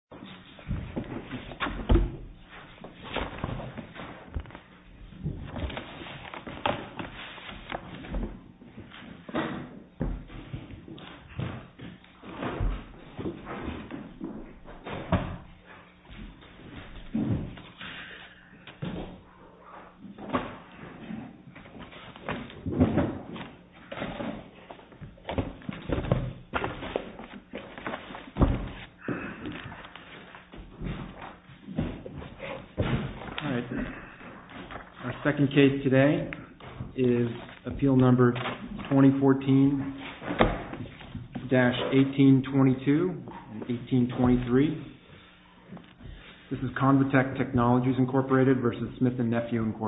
v. Smith & Nephew, Inc. Our second case today is appeal number 2014-1822 and 1823. This is ConvaTec Technologies, Inc. v. Smith & Nephew, Inc.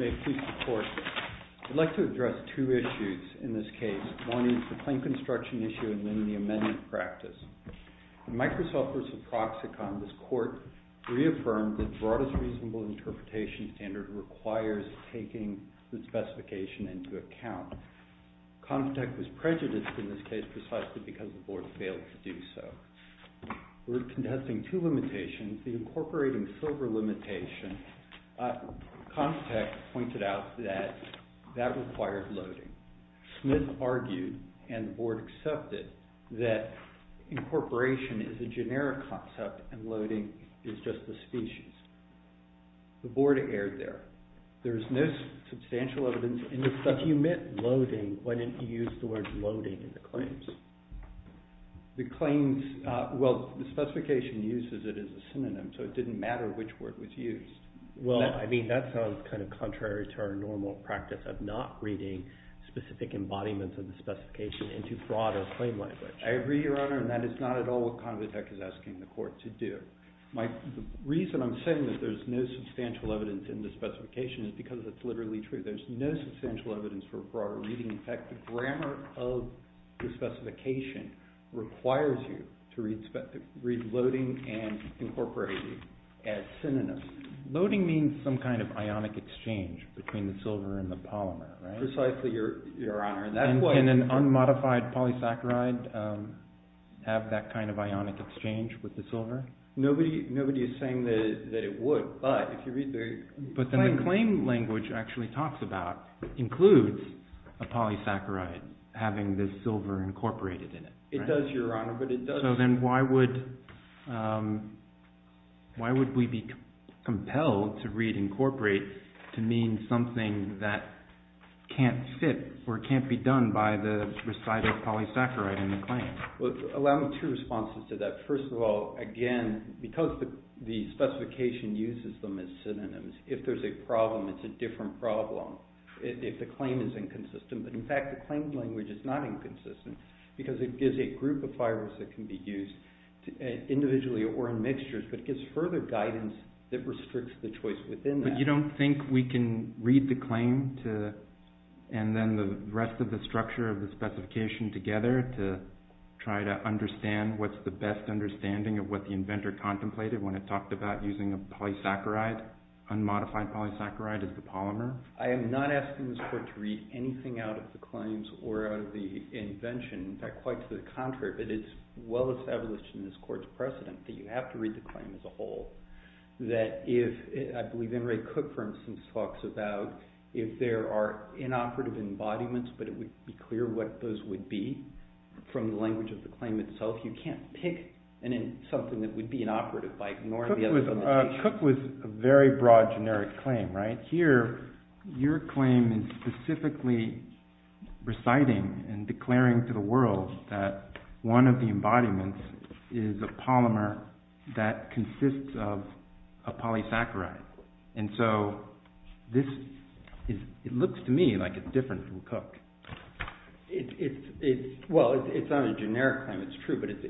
I'd like to address two issues in this case. One is the plain construction issue and then the amendment practice. In Microsoft v. Proxicon, this court reaffirmed that the Broadest Reasonable Interpretation standard requires taking the specification into account. ConvaTec was prejudiced in this case precisely because the Board failed to do so. We're contesting two limitations, the incorporating silver limitation. ConvaTec pointed out that that required loading. Smith argued and the Board accepted that incorporation is a generic concept and loading is just a species. The Board erred there. If you meant loading, why didn't you use the word loading in the claims? The claims, well, the specification uses it as a synonym, so it didn't matter which word was used. Well, I mean, that sounds kind of contrary to our normal practice of not reading specific embodiments of the specification into broader claim language. I agree, Your Honor, and that is not at all what ConvaTec is asking the court to do. The reason I'm saying that there's no substantial evidence in the specification is because it's literally true. There's no substantial evidence for a broader reading. In fact, the grammar of the specification requires you to read loading and incorporation as synonyms. Loading means some kind of ionic exchange between the silver and the polymer, right? Precisely, Your Honor. And can an unmodified polysaccharide have that kind of ionic exchange with the silver? Nobody is saying that it would, but if you read the— But then the claim language actually talks about, includes a polysaccharide having the silver incorporated in it, right? It does, Your Honor, but it doesn't— So then why would we be compelled to read incorporate to mean something that can't fit or can't be done by the recited polysaccharide in the claim? Well, allow me two responses to that. First of all, again, because the specification uses them as synonyms, if there's a problem, it's a different problem if the claim is inconsistent. But in fact, the claim language is not inconsistent because it gives a group of fibers that can be used individually or in mixtures, but it gives further guidance that restricts the choice within that. You don't think we can read the claim and then the rest of the structure of the specification together to try to understand what's the best understanding of what the inventor contemplated when it talked about using a polysaccharide, unmodified polysaccharide as the polymer? I am not asking this Court to read anything out of the claims or out of the invention. In fact, quite to the contrary, but it's well established in this Court's precedent that you have to read the claim as a whole. I believe N. Ray Cook, for instance, talks about if there are inoperative embodiments, but it would be clear what those would be from the language of the claim itself. You can't pick something that would be inoperative by ignoring the other limitations. Cook was a very broad generic claim, right? Here, your claim is specifically reciting and declaring to the world that one of the embodiments is a polymer that consists of a polysaccharide. And so this looks to me like it's different from Cook. Well, it's not a generic claim, it's true, but it's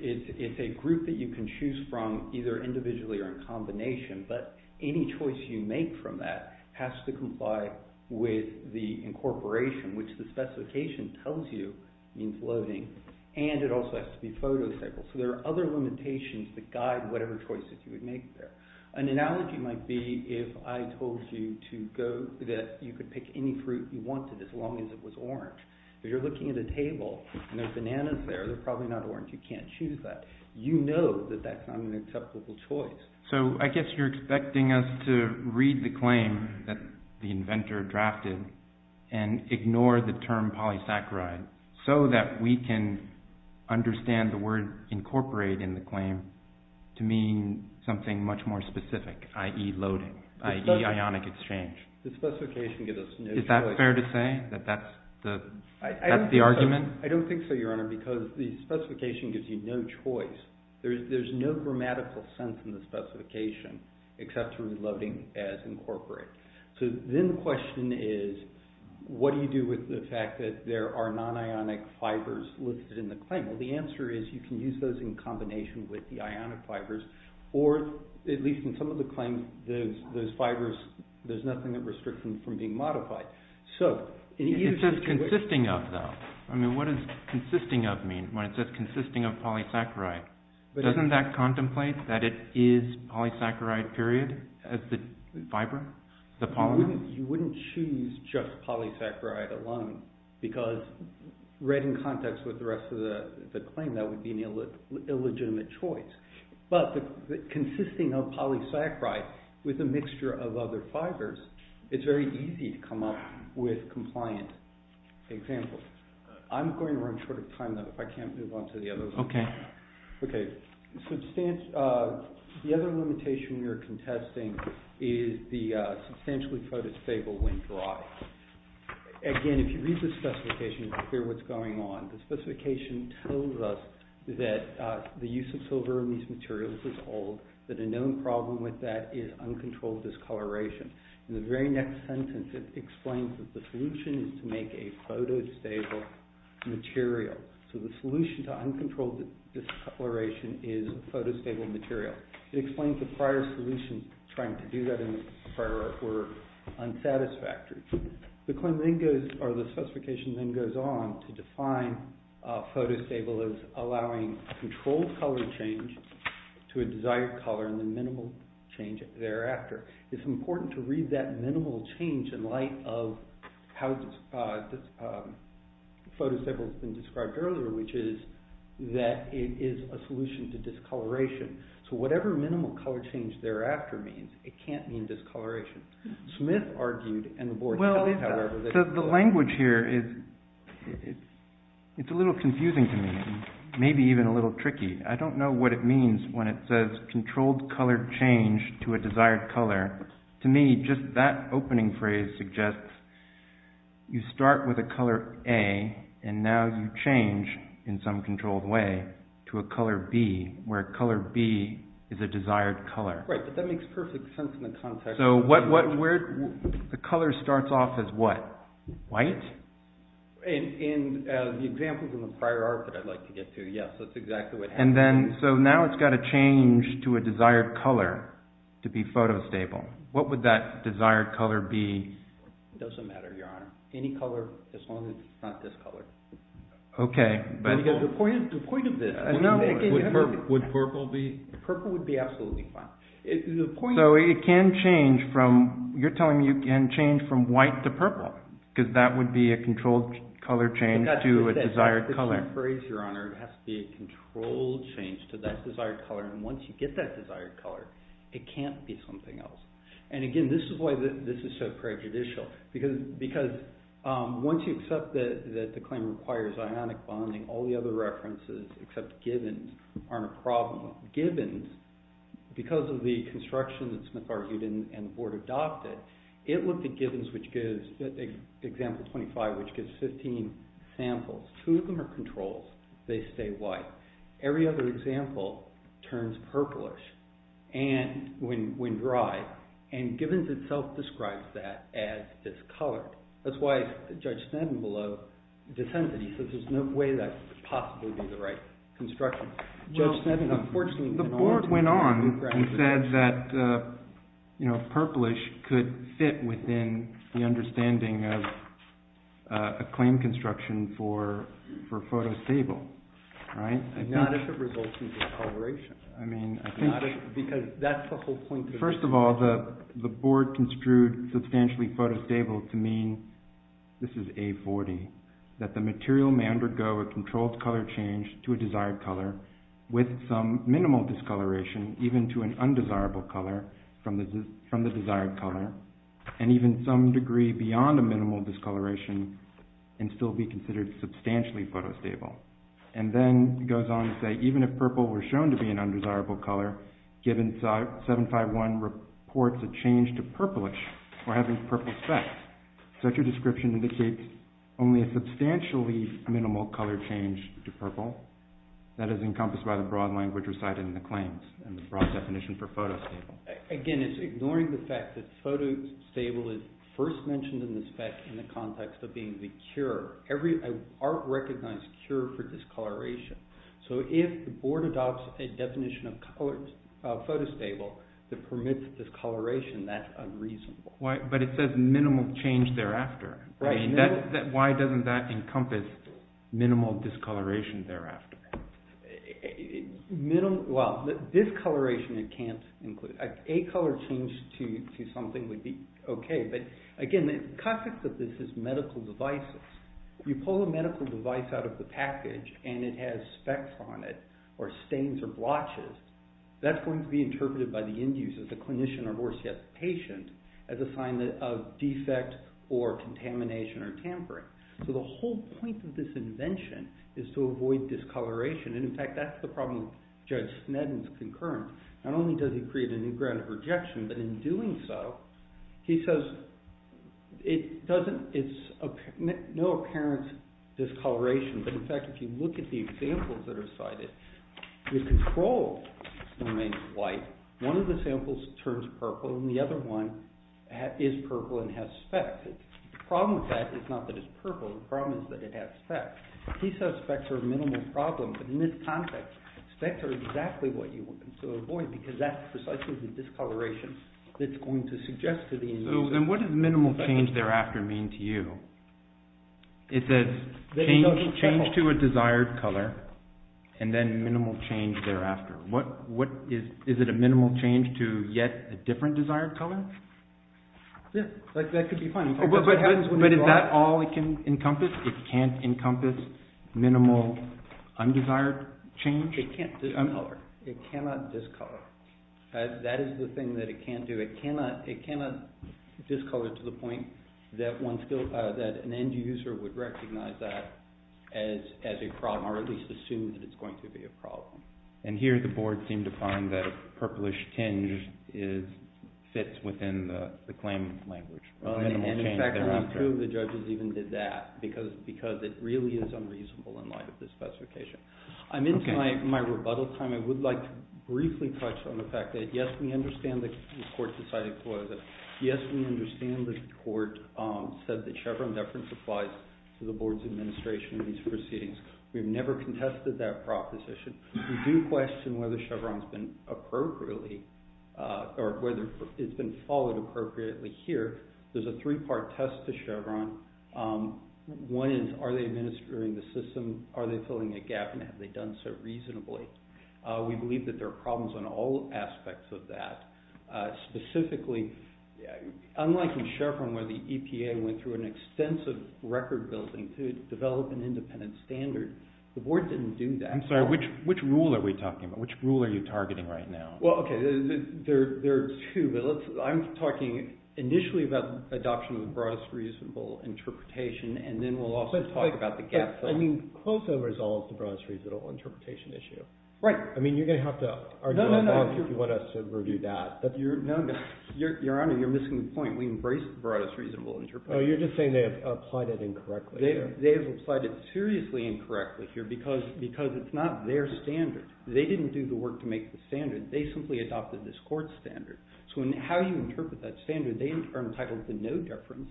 a group that you can choose from either individually or in combination, but any choice you make from that has to comply with the incorporation, which the specification tells you means loading, and it also has to be photocycled. So there are other limitations that guide whatever choices you would make there. An analogy might be if I told you that you could pick any fruit you wanted as long as it was orange. If you're looking at a table and there are bananas there, they're probably not orange. You can't choose that. You know that that's not an acceptable choice. So I guess you're expecting us to read the claim that the inventor drafted and ignore the term polysaccharide so that we can understand the word incorporate in the claim to mean something much more specific, i.e. loading, i.e. ionic exchange. The specification gives us no choice. Is that fair to say, that that's the argument? I don't think so, Your Honor, because the specification gives you no choice. There's no grammatical sense in the specification except to read loading as incorporate. So then the question is, what do you do with the fact that there are non-ionic fibers listed in the claim? Well, the answer is you can use those in combination with the ionic fibers, or at least in some of the claims, those fibers, there's nothing that restricts them from being modified. It says consisting of, though. I mean, what does consisting of mean when it says consisting of polysaccharide? Doesn't that contemplate that it is polysaccharide, period, as the fiber, the polymer? You wouldn't choose just polysaccharide alone, because read in context with the rest of the claim, that would be an illegitimate choice. But consisting of polysaccharide with a mixture of other fibers, it's very easy to come up with compliant examples. I'm going to run short of time, though, if I can't move on to the other one. Okay. Okay. The other limitation we are contesting is the substantially protostable when dry. Again, if you read the specification, you can hear what's going on. The specification tells us that the use of silver in these materials is old, that a known problem with that is uncontrolled discoloration. In the very next sentence, it explains that the solution is to make a protostable material. So the solution to uncontrolled discoloration is a protostable material. It explains the prior solution, trying to do that in a prior order, were unsatisfactory. The specification then goes on to define protostable as allowing controlled color change to a desired color and the minimal change thereafter. It's important to read that minimal change in light of how protostable has been described earlier, which is that it is a solution to discoloration. So whatever minimal color change thereafter means, it can't mean discoloration. Well, the language here is, it's a little confusing to me, maybe even a little tricky. I don't know what it means when it says controlled color change to a desired color. To me, just that opening phrase suggests you start with a color A and now you change in some controlled way to a color B, where color B is a desired color. Right, but that makes perfect sense in the context. So the color starts off as what? White? In the examples in the prior art that I'd like to get to, yes, that's exactly what happens. So now it's got to change to a desired color to be photostable. What would that desired color be? It doesn't matter, Your Honor. Any color, as long as it's not this color. Okay, but... The point of this... Would purple be? Purple would be absolutely fine. So it can change from, you're telling me it can change from white to purple, because that would be a controlled color change to a desired color. It has to be a controlled change to that desired color, and once you get that desired color, it can't be something else. And again, this is why this is so prejudicial, because once you accept that the claim requires ionic bonding, all the other references except Gibbons aren't a problem. Gibbons, because of the construction that Smith argued and the board adopted, it looked at Gibbons, which gives, example 25, which gives 15 samples. Two of them are controls. They stay white. Every other example turns purplish when dry, and Gibbons itself describes that as discolored. That's why Judge Sneddon below dissented. He says there's no way that could possibly be the right construction. Judge Sneddon, unfortunately... The board went on and said that purplish could fit within the understanding of a claim construction for photostable, right? Not if it results in discoloration. I mean, I think... Because that's the whole point of... This is A40, that the material may undergo a controlled color change to a desired color with some minimal discoloration, even to an undesirable color from the desired color, and even some degree beyond a minimal discoloration, and still be considered substantially photostable. And then he goes on to say, even if purple were shown to be an undesirable color, Gibbons 751 reports a change to purplish, or having purple specs. Such a description indicates only a substantially minimal color change to purple. That is encompassed by the broad language recited in the claims, and the broad definition for photostable. Again, it's ignoring the fact that photostable is first mentioned in the spec in the context of being the cure. Art recognized cure for discoloration. So if the board adopts a definition of photostable that permits discoloration, that's unreasonable. But it says minimal change thereafter. Why doesn't that encompass minimal discoloration thereafter? Well, discoloration it can't include. A color change to something would be okay. But again, the context of this is medical devices. If you pull a medical device out of the package, and it has specs on it, or stains or blotches, that's going to be interpreted by the induced as a clinician, or worse yet, the patient, as a sign of defect, or contamination, or tampering. So the whole point of this invention is to avoid discoloration. And in fact, that's the problem with Judge Sneddon's concurrence. Not only does he create a new ground of rejection, but in doing so, he says it's no apparent discoloration. But in fact, if you look at the examples that are cited, you control the domain of white. One of the samples turns purple, and the other one is purple and has specs. The problem with that is not that it's purple. The problem is that it has specs. He says specs are a minimal problem. But in this context, specs are exactly what you want to avoid, because that's precisely the discoloration that's going to suggest to the individual. So then what does minimal change thereafter mean to you? It says change to a desired color, and then minimal change thereafter. Is it a minimal change to yet a different desired color? Yeah, that could be fine. But is that all it can encompass? It can't encompass minimal undesired change? It cannot discolor. That is the thing that it can't do. It cannot discolor to the point that an end user would recognize that as a problem, or at least assume that it's going to be a problem. And here the board seemed to find that a purplish tinge fits within the claim language. And in fact, only two of the judges even did that, because it really is unreasonable in light of the specification. I'm into my rebuttal time. I would like to briefly touch on the fact that, yes, we understand the court decided to close it. Yes, we understand the court said that Chevron deference applies to the board's administration in these proceedings. We've never contested that proposition. We do question whether Chevron has been followed appropriately here. There's a three-part test to Chevron. One is, are they administering the system? Are they filling a gap, and have they done so reasonably? We believe that there are problems in all aspects of that. Specifically, unlike in Chevron where the EPA went through an extensive record building to develop an independent standard, the board didn't do that. I'm sorry, which rule are we talking about? Which rule are you targeting right now? Well, okay, there are two, but I'm talking initially about adoption of the broadest reasonable interpretation, and then we'll also talk about the gaps. I mean, closeover is always the broadest reasonable interpretation issue. Right. I mean, you're going to have to argue with us if you want us to review that. No, no, Your Honor, you're missing the point. We embrace the broadest reasonable interpretation. Oh, you're just saying they have applied it incorrectly. They have applied it seriously incorrectly here, because it's not their standard. They didn't do the work to make the standard. They simply adopted this court standard. So how do you interpret that standard? They are entitled to no deference.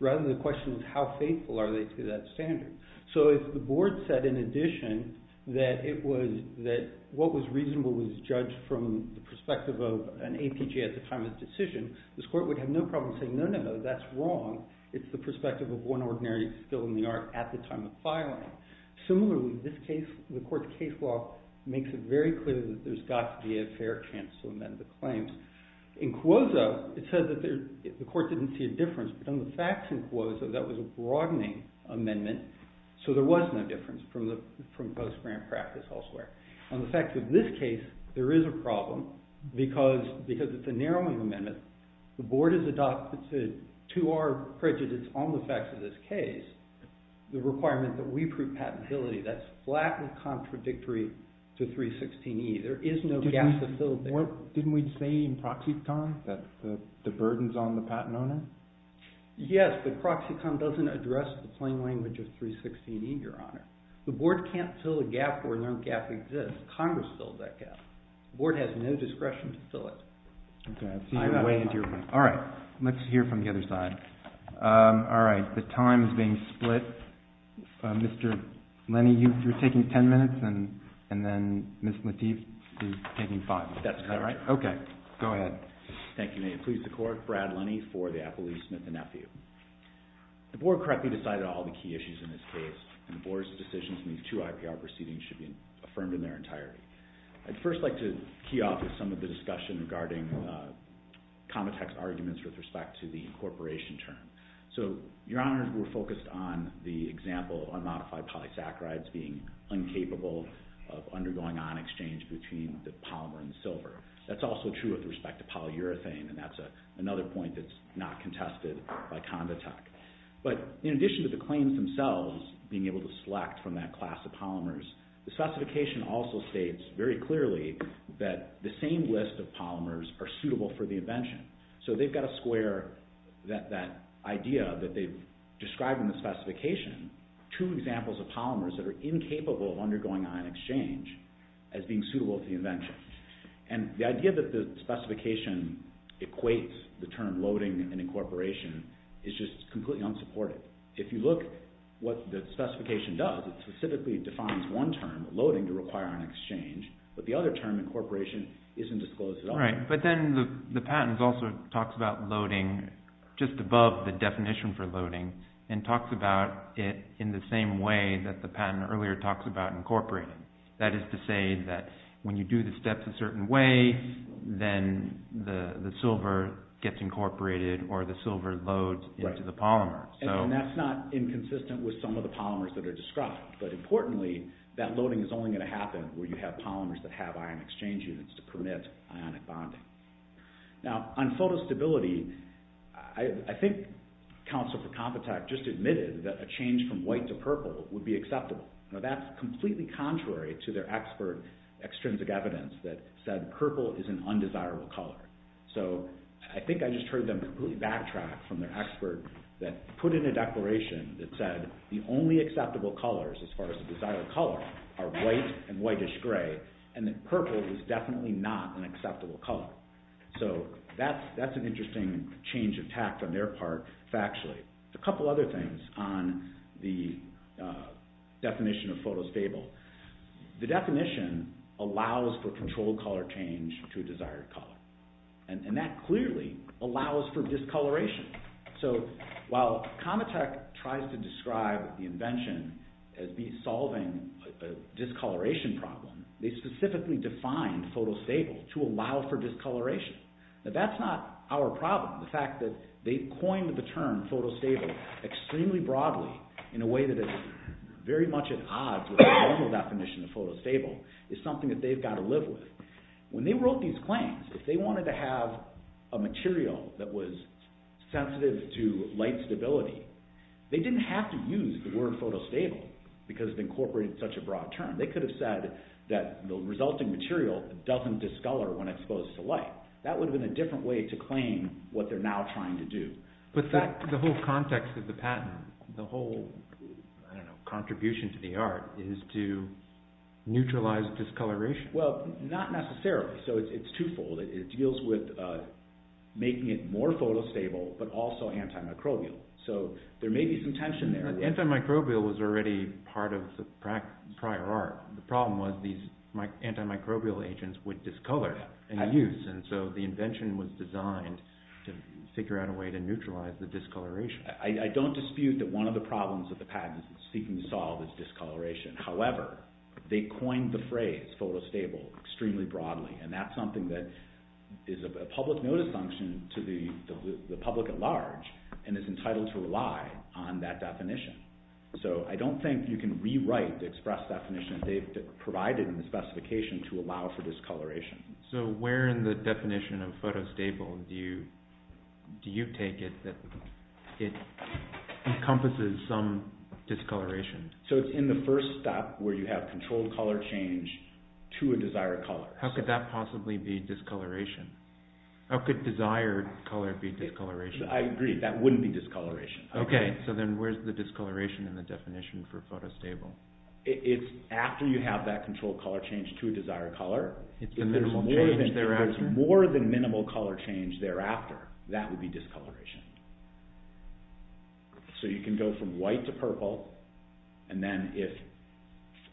Rather, the question is how faithful are they to that standard? So if the board said, in addition, that what was reasonable was judged from the perspective of an APJ at the time of the decision, this court would have no problem saying, no, no, no, that's wrong. It's the perspective of one ordinary skill in the art at the time of filing. Similarly, in this case, the court's case law makes it very clear that there's got to be a fair chance to amend the claims. In Cuozo, it says that the court didn't see a difference. But on the facts in Cuozo, that was a broadening amendment. So there was no difference from post-grant practice elsewhere. On the facts of this case, there is a problem, because it's a narrowing amendment. The board has adopted, to our prejudice on the facts of this case, the requirement that we prove patentability. That's flat and contradictory to 316E. There is no gap to fill there. Didn't we say in Proxicon that the burden's on the patent owner? Yes, but Proxicon doesn't address the plain language of 316E, Your Honor. The board can't fill a gap where no gap exists. Congress filled that gap. The board has no discretion to fill it. All right, let's hear from the other side. All right, the time is being split. Mr. Lenny, you're taking ten minutes, and then Ms. Lateef is taking five. That's correct. Okay, go ahead. Thank you, ma'am. Please support Brad Lenny for the Appellee Smith and Nephew. The board correctly decided all the key issues in this case, and the board's decisions in these two IPR proceedings should be affirmed in their entirety. I'd first like to key off some of the discussion regarding Conditec's arguments with respect to the incorporation term. So, Your Honor, we're focused on the example of unmodified polysaccharides being incapable of undergoing on-exchange between the polymer and the silver. That's also true with respect to polyurethane, and that's another point that's not contested by Conditec. But in addition to the claims themselves being able to select from that class of polymers, the specification also states very clearly that the same list of polymers are suitable for the invention. So they've got to square that idea that they've described in the specification, two examples of polymers that are incapable of undergoing on-exchange, as being suitable for the invention. And the idea that the specification equates the term loading and incorporation is just completely unsupported. If you look at what the specification does, it specifically defines one term, loading, to require on-exchange, but the other term, incorporation, isn't disclosed at all. But then the patent also talks about loading just above the definition for loading and talks about it in the same way that the patent earlier talks about incorporating. That is to say that when you do the steps a certain way, then the silver gets incorporated or the silver loads into the polymer. And that's not inconsistent with some of the polymers that are described, but importantly, that loading is only going to happen where you have polymers that have ion exchange units to permit ionic bonding. Now, on photostability, I think Counsel for Compitech just admitted that a change from white to purple would be acceptable. That's completely contrary to their expert extrinsic evidence that said purple is an undesirable color. So I think I just heard them completely backtrack from their expert that put in a declaration that said the only acceptable colors, as far as the desired color, are white and whitish-gray, and that purple is definitely not an acceptable color. So that's an interesting change of tact on their part, factually. A couple other things on the definition of photostable. The definition allows for controlled color change to a desired color. And that clearly allows for discoloration. So while Compitech tries to describe the invention as be solving a discoloration problem, they specifically define photostable to allow for discoloration. Now that's not our problem. The fact that they coined the term photostable extremely broadly in a way that is very much at odds with the normal definition of photostable is something that they've got to live with. When they wrote these claims, if they wanted to have a material that was sensitive to light stability, they didn't have to use the word photostable because it incorporated such a broad term. They could have said that the resulting material doesn't discolor when exposed to light. That would have been a different way to claim what they're now trying to do. But the whole context of the patent, the whole contribution to the art is to neutralize discoloration. Well, not necessarily. So it's twofold. It deals with making it more photostable, but also antimicrobial. So there may be some tension there. Antimicrobial was already part of the prior art. The problem was these antimicrobial agents would discolor in use. And so the invention was designed to figure out a way to neutralize the discoloration. I don't dispute that one of the problems that the patent is seeking to solve is discoloration. However, they coined the phrase photostable extremely broadly, and that's something that is a public notice function to the public at large and is entitled to rely on that definition. So I don't think you can rewrite the express definition they've provided in the specification to allow for discoloration. So where in the definition of photostable do you take it that it encompasses some discoloration? So it's in the first stop where you have controlled color change to a desired color. How could that possibly be discoloration? How could desired color be discoloration? I agree. That wouldn't be discoloration. Okay. So then where's the discoloration in the definition for photostable? It's after you have that controlled color change to a desired color. If there's more than minimal color change thereafter, that would be discoloration. So you can go from white to purple, and then if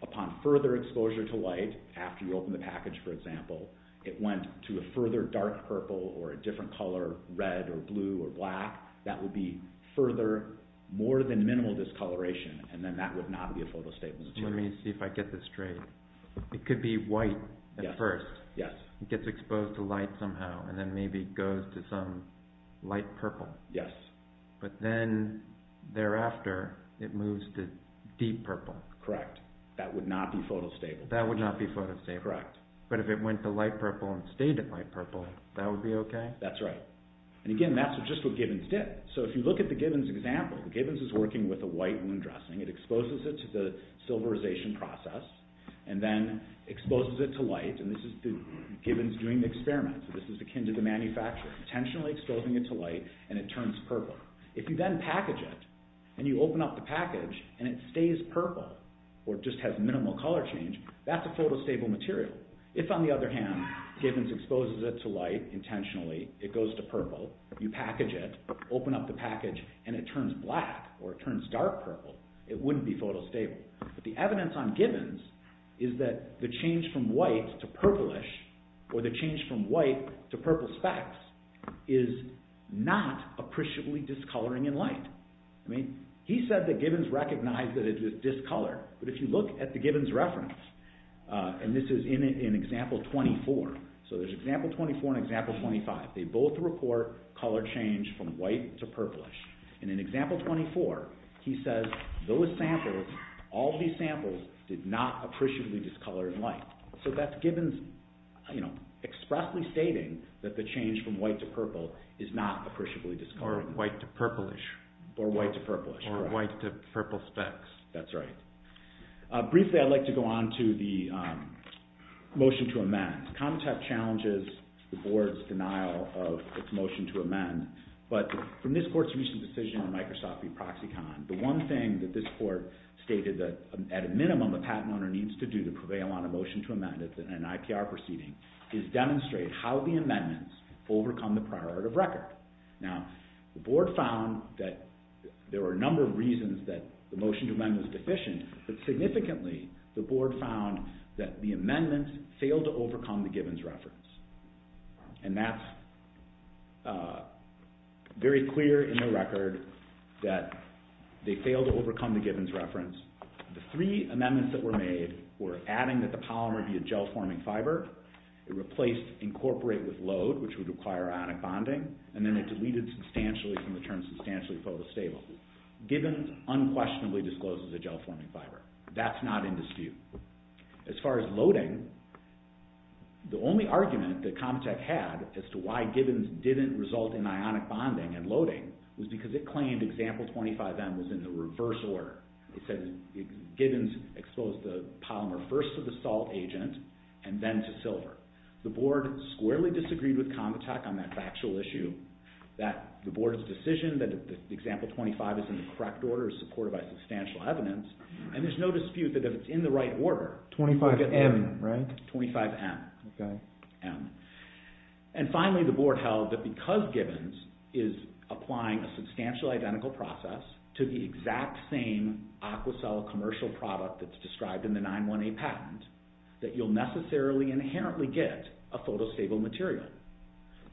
upon further exposure to white, after you open the package, for example, it went to a further dark purple or a different color, red or blue or black, that would be further, more than minimal discoloration, and then that would not be a photostable. Let me see if I get this straight. It could be white at first. Yes. It gets exposed to light somehow, and then maybe goes to some light purple. Yes. But then thereafter, it moves to deep purple. Correct. That would not be photostable. That would not be photostable. Correct. But if it went to light purple and stayed at light purple, that would be okay? That's right. And again, that's just what Gibbons did. So if you look at the Gibbons example, Gibbons is working with a white wound dressing. It exposes it to the silverization process and then exposes it to light, and this is Gibbons doing the experiment, so this is akin to the manufacturer, intentionally exposing it to light, and it turns purple. If you then package it and you open up the package and it stays purple or just has minimal color change, that's a photostable material. If, on the other hand, Gibbons exposes it to light intentionally, it goes to purple, you package it, open up the package, and it turns black or it turns dark purple. It wouldn't be photostable. But the evidence on Gibbons is that the change from white to purplish or the change from white to purple specks is not appreciably discoloring in light. I mean, he said that Gibbons recognized that it was discolored, but if you look at the Gibbons reference, and this is in example 24, so there's example 24 and example 25. They both report color change from white to purplish, and in example 24 he says those samples, all these samples, did not appreciably discolor in light. So that's Gibbons expressly stating that the change from white to purple is not appreciably discoloring. Or white to purplish. Or white to purplish. Or white to purple specks. That's right. Briefly, I'd like to go on to the motion to amend. ComTech challenges the board's denial of its motion to amend, but from this court's recent decision on Microsoft v. ProxyCon, the one thing that this court stated that, at a minimum, a patent owner needs to do to prevail on a motion to amend in an IPR proceeding is demonstrate how the amendments overcome the priority of record. Now, the board found that there were a number of reasons that the motion to amend was deficient, but significantly the board found that the amendments failed to overcome the Gibbons reference. And that's very clear in the record that they failed to overcome the Gibbons reference. The three amendments that were made were adding that the polymer be a gel-forming fiber, it replaced incorporate with load, which would require ionic bonding, and then it deleted substantially from the term substantially photostable. Gibbons unquestionably discloses a gel-forming fiber. That's not in dispute. As far as loading, the only argument that ComTech had as to why Gibbons didn't result in ionic bonding and loading was because it claimed example 25M was in the reverse order. It said Gibbons exposed the polymer first to the salt agent and then to silver. The board squarely disagreed with ComTech on that factual issue that the board's decision that example 25 is in the correct order is supported by substantial evidence. And there's no dispute that if it's in the right order... 25M, right? 25M. Okay. M. And finally, the board held that because Gibbons is applying a substantial identical process to the exact same Aquacel commercial product that's described in the 9-1-A patent, that you'll necessarily inherently get a photostable material.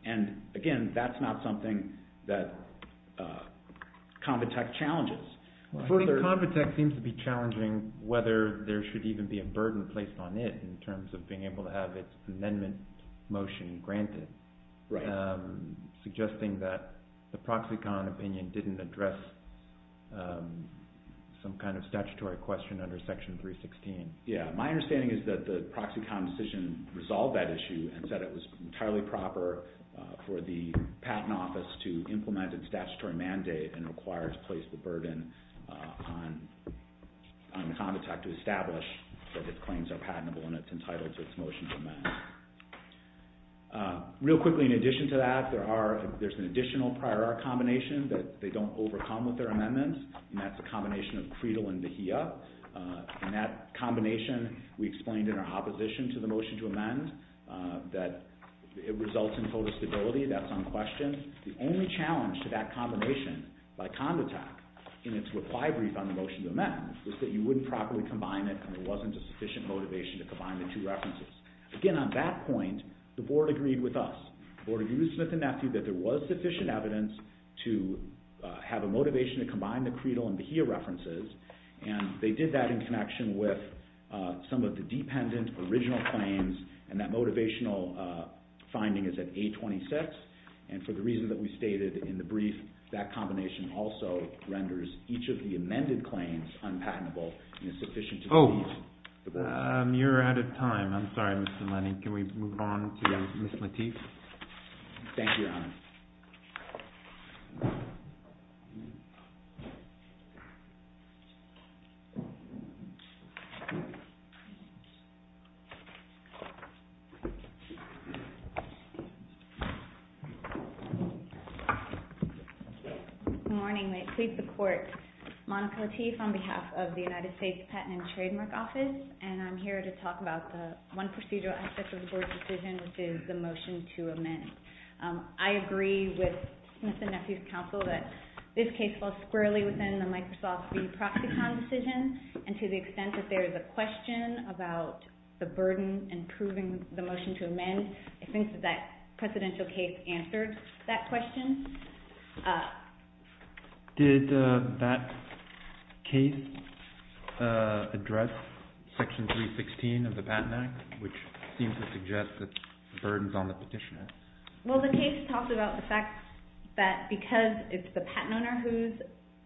And again, that's not something that ComTech challenges. I think ComTech seems to be challenging whether there should even be a burden placed on it in terms of being able to have its amendment motion granted, suggesting that the Proxicon opinion didn't address some kind of statutory question under Section 316. Yeah. My understanding is that the Proxicon decision resolved that issue and said it was entirely proper for the Patent Office to implement a statutory mandate and require to place the burden on ComTech to establish that its claims are patentable and it's entitled to its motion to amend. Real quickly, in addition to that, there's an additional prior art combination that they don't overcome with their amendment, and that's a combination of Creedle and Vahia. And that combination we explained in our opposition to the motion to amend, that it results in photostability, that's unquestioned. The only challenge to that combination by ComTech in its reply brief on the motion to amend was that you wouldn't properly combine it and there wasn't a sufficient motivation to combine the two references. Again, on that point, the Board agreed with us. The Board agreed with Smith and Nethew that there was sufficient evidence to have a motivation to combine the Creedle and Vahia references, and they did that in connection with some of the dependent original claims and that motivational finding is at A26. And for the reason that we stated in the brief, that combination also renders each of the amended claims unpatentable and is sufficient to be used. You're out of time. I'm sorry, Mr. Lenny. Thank you, Your Honor. Thank you. Good morning. May it please the Court, Monica Lateef on behalf of the United States Patent and Trademark Office, and I'm here to talk about the one procedural aspect of the Board's decision, which is the motion to amend. I agree with Smith and Nethew's counsel that this case falls squarely within the Microsoft v. Proxicon decision, and to the extent that there is a question about the burden in proving the motion to amend, I think that that precedential case answered that question. Did that case address Section 316 of the Patent Act, which seems to suggest that the burden is on the petitioner? Well, the case talks about the fact that because it's the patent owner who's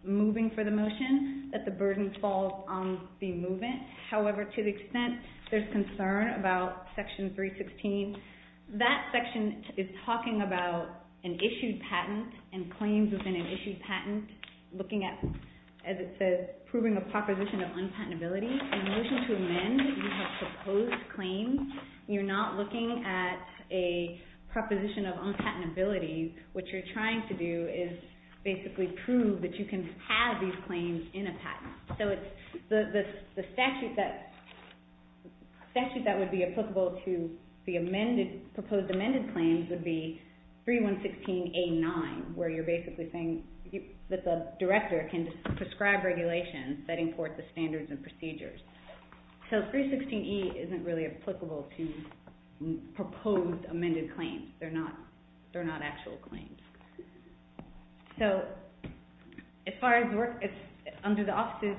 moving for the motion, that the burden falls on the movement. However, to the extent there's concern about Section 316, that section is talking about an issued patent and claims within an issued patent, looking at, as it says, proving a proposition of unpatentability. In the motion to amend, you have proposed claims. You're not looking at a proposition of unpatentability. What you're trying to do is basically prove that you can have these claims in a patent. So the statute that would be applicable to the proposed amended claims would be 3116A9, where you're basically saying that the director can prescribe regulations that import the standards and procedures. So 316E isn't really applicable to proposed amended claims. They're not actual claims. So as far as work, under the office's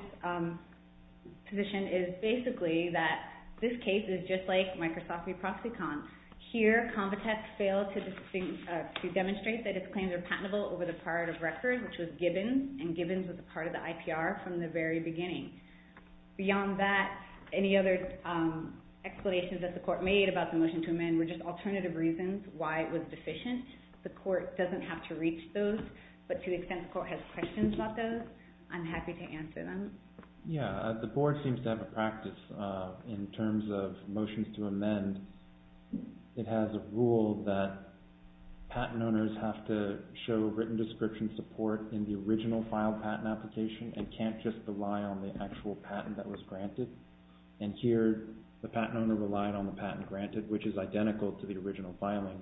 position, is basically that this case is just like Microsoft v. Proxycon. Here, Convitex failed to demonstrate that its claims are patentable over the prior record, which was Gibbons, and Gibbons was a part of the IPR from the very beginning. Beyond that, any other explanations that the court made about the motion to amend were just alternative reasons why it was deficient. The court doesn't have to reach those, but to the extent the court has questions about those, I'm happy to answer them. Yeah, the board seems to have a practice. In terms of motions to amend, it has a rule that patent owners have to show written description support in the original filed patent application and can't just rely on the actual patent that was granted. And here, the patent owner relied on the patent granted, which is identical to the original filing.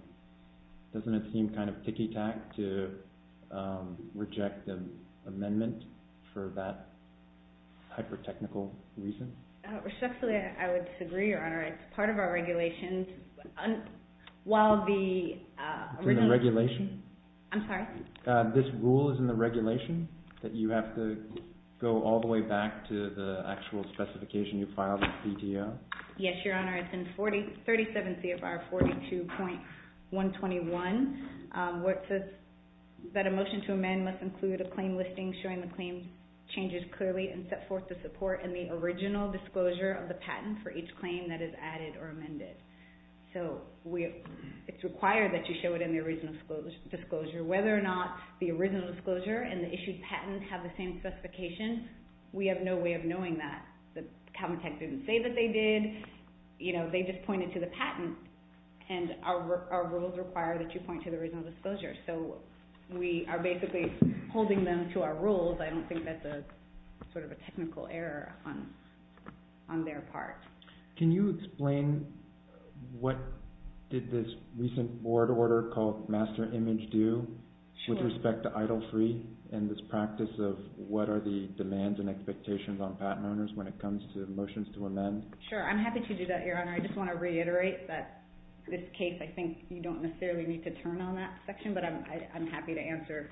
Doesn't it seem kind of ticky-tack to reject an amendment for that hyper-technical reason? Respectfully, I would disagree, Your Honor. It's part of our regulations. It's in the regulation? I'm sorry? This rule is in the regulation that you have to go all the way back to the actual specification you filed at PDO? Yes, Your Honor. It's in 37 CFR 42.121. It says that a motion to amend must include a claim listing showing the claim changes clearly and set forth the support in the original disclosure of the patent for each claim that is added or amended. So it's required that you show it in the original disclosure. Whether or not the original disclosure and the issued patent have the same specification, we have no way of knowing that. The Calvin Tech didn't say that they did. They just pointed to the patent, and our rules require that you point to the original disclosure. So we are basically holding them to our rules. I don't think that's sort of a technical error on their part. Can you explain what did this recent board order called Master Image do with respect to EIDL3 and this practice of what are the demands and expectations on patent owners when it comes to motions to amend? Sure, I'm happy to do that, Your Honor. I just want to reiterate that this case, I think you don't necessarily need to turn on that section, but I'm happy to answer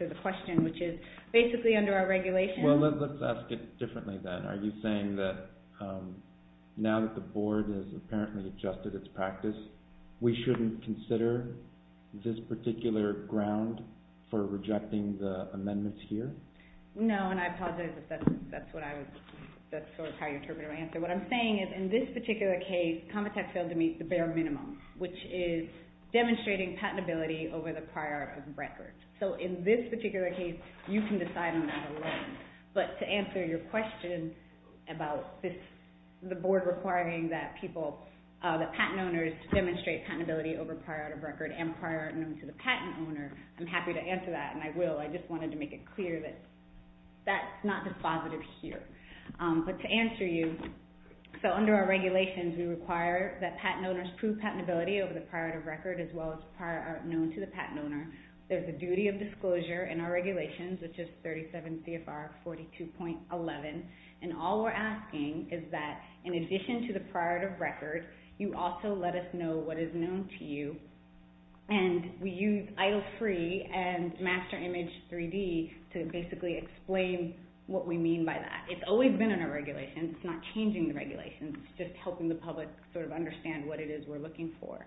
the question, which is basically under our regulation. Well, let's ask it differently then. Are you saying that now that the board has apparently adjusted its practice, we shouldn't consider this particular ground for rejecting the amendments here? No, and I apologize if that's sort of how you interpreted my answer. What I'm saying is in this particular case, Calvin Tech failed to meet the bare minimum, which is demonstrating patentability over the prior art of record. So in this particular case, you can decide on that alone. But to answer your question about the board requiring that people, the patent owners, to demonstrate patentability over prior art of record and prior art known to the patent owner, I'm happy to answer that, and I will. I just wanted to make it clear that that's not dispositive here. But to answer you, so under our regulations, we require that patent owners prove patentability over the prior art of record as well as prior art known to the patent owner. There's a duty of disclosure in our regulations, which is 37 CFR 42.11, you also let us know what is known to you, and we use EIDL3 and Master Image 3D to basically explain what we mean by that. It's always been in our regulations. It's not changing the regulations. It's just helping the public sort of understand what it is we're looking for.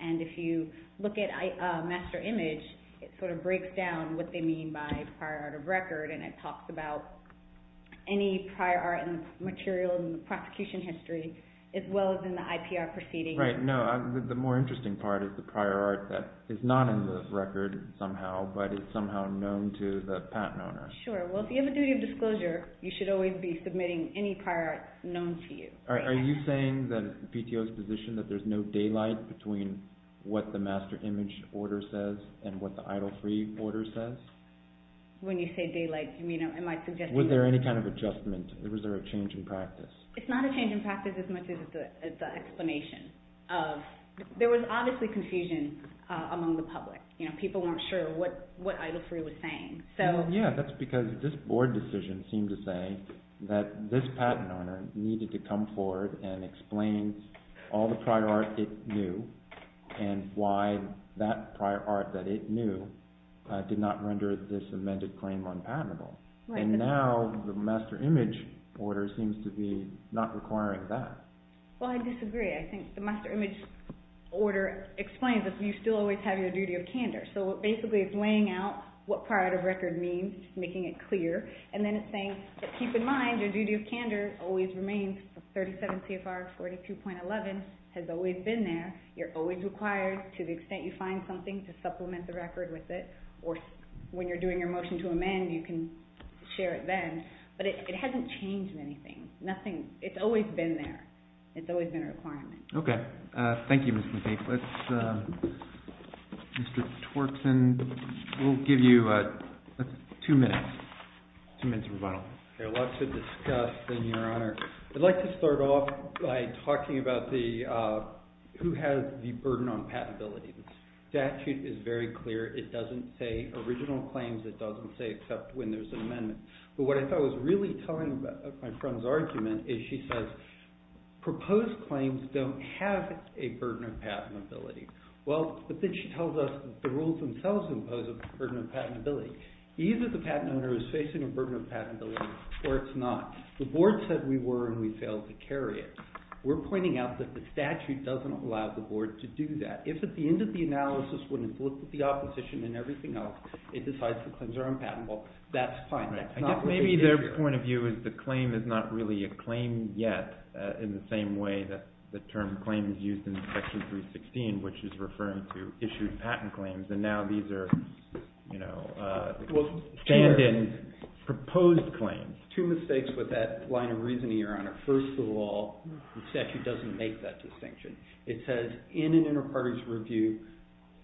And if you look at Master Image, it sort of breaks down what they mean by prior art of record, and it talks about any prior art material in the prosecution history as well as in the IPR proceedings. Right. No. The more interesting part is the prior art that is not in the record somehow, but is somehow known to the patent owner. Sure. Well, if you have a duty of disclosure, you should always be submitting any prior art known to you. All right. Are you saying that PTO's position that there's no daylight between what the Master Image order says and what the EIDL3 order says? When you say daylight, am I suggesting that? Was there any kind of adjustment? Was there a change in practice? It's not a change in practice as much as the explanation. There was obviously confusion among the public. People weren't sure what EIDL3 was saying. Yeah, that's because this board decision seemed to say that this patent owner needed to come forward and explain all the prior art it knew and why that prior art that it knew did not render this amended claim unpatentable. And now the Master Image order seems to be not requiring that. Well, I disagree. I think the Master Image order explains that you still always have your duty of candor. So basically it's weighing out what prior art of record means, making it clear, and then it's saying, keep in mind your duty of candor always remains. 37 CFR 42.11 has always been there. You're always required, to the extent you find something, to supplement the record with it. Or when you're doing your motion to amend, you can share it then. But it hasn't changed anything. It's always been there. It's always been a requirement. Okay. Thank you, Ms. McKee. Mr. Twerkson, we'll give you 2 minutes. 2 minutes of rebuttal. There's a lot to discuss, then, Your Honor. I'd like to start off by talking about who has the burden on patentability. The statute is very clear. It doesn't say original claims. It doesn't say except when there's an amendment. But what I thought was really telling my friend's argument is she says, proposed claims don't have a burden of patentability. But then she tells us the rules themselves impose a burden of patentability. Either the patent owner is facing a burden of patentability, or it's not. The board said we were, and we failed to carry it. We're pointing out that the statute doesn't allow the board to do that. If at the end of the analysis, when it's looked at the opposition and everything else, it decides the claims are unpatentable, that's fine. I guess maybe their point of view is the claim is not really a claim yet, in the same way that the term claim is used in Section 316, which is referring to issued patent claims. And now these are stand-in, proposed claims. Two mistakes with that line of reasoning, Your Honor. First of all, the statute doesn't make that distinction. It says, in an inter-parties review,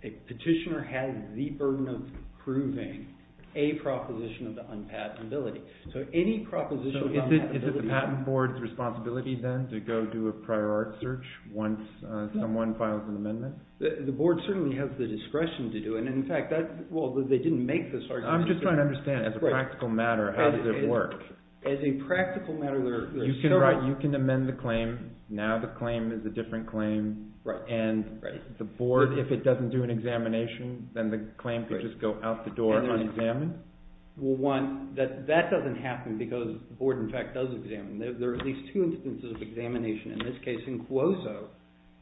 a petitioner has the burden of proving a proposition of the unpatentability. So any proposition of unpatentability. So is it the patent board's responsibility, then, to go do a prior art search once someone files an amendment? The board certainly has the discretion to do it. And in fact, that's, well, they didn't make this argument. I'm just trying to understand, as a practical matter, how does it work? As a practical matter, there are several. You can amend the claim. Now the claim is a different claim. And the board, if it doesn't do an examination, then the claim could just go out the door unexamined? Well, one, that doesn't happen because the board, in fact, does examine. There are at least two instances of examination. In this case, in Cuozzo,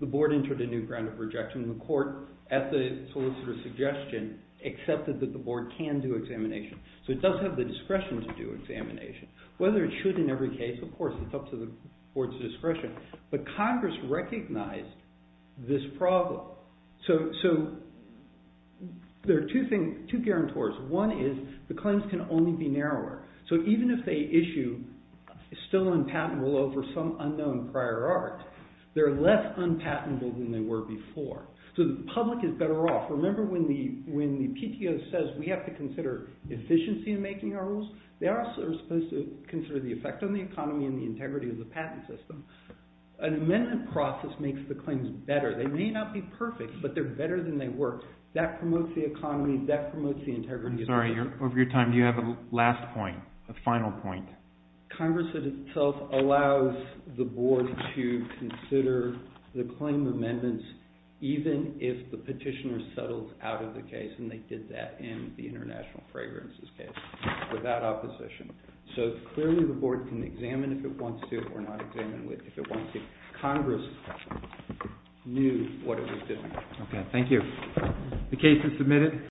the board entered a new ground of rejection. And the court, at the solicitor's suggestion, accepted that the board can do examination. So it does have the discretion to do examination. Whether it should in every case, of course, it's up to the board's discretion. But Congress recognized this problem. So there are two guarantors. One is the claims can only be narrower. So even if they issue a still unpatentable over some unknown prior art, they're less unpatentable than they were before. So the public is better off. Remember when the PTO says we have to consider efficiency in making our rules? They also are supposed to consider the effect on the economy and the integrity of the patent system. An amendment process makes the claims better. They may not be perfect, but they're better than they were. That promotes the economy. That promotes the integrity. Sorry, over your time, do you have a last point, a final point? Congress itself allows the board to consider the claim amendments, even if the petitioner settles out of the case. And they did that in the international fragrances case without opposition. So clearly the board can examine if it wants to or not examine if it wants to. Congress knew what it was doing. OK, thank you. The case is submitted.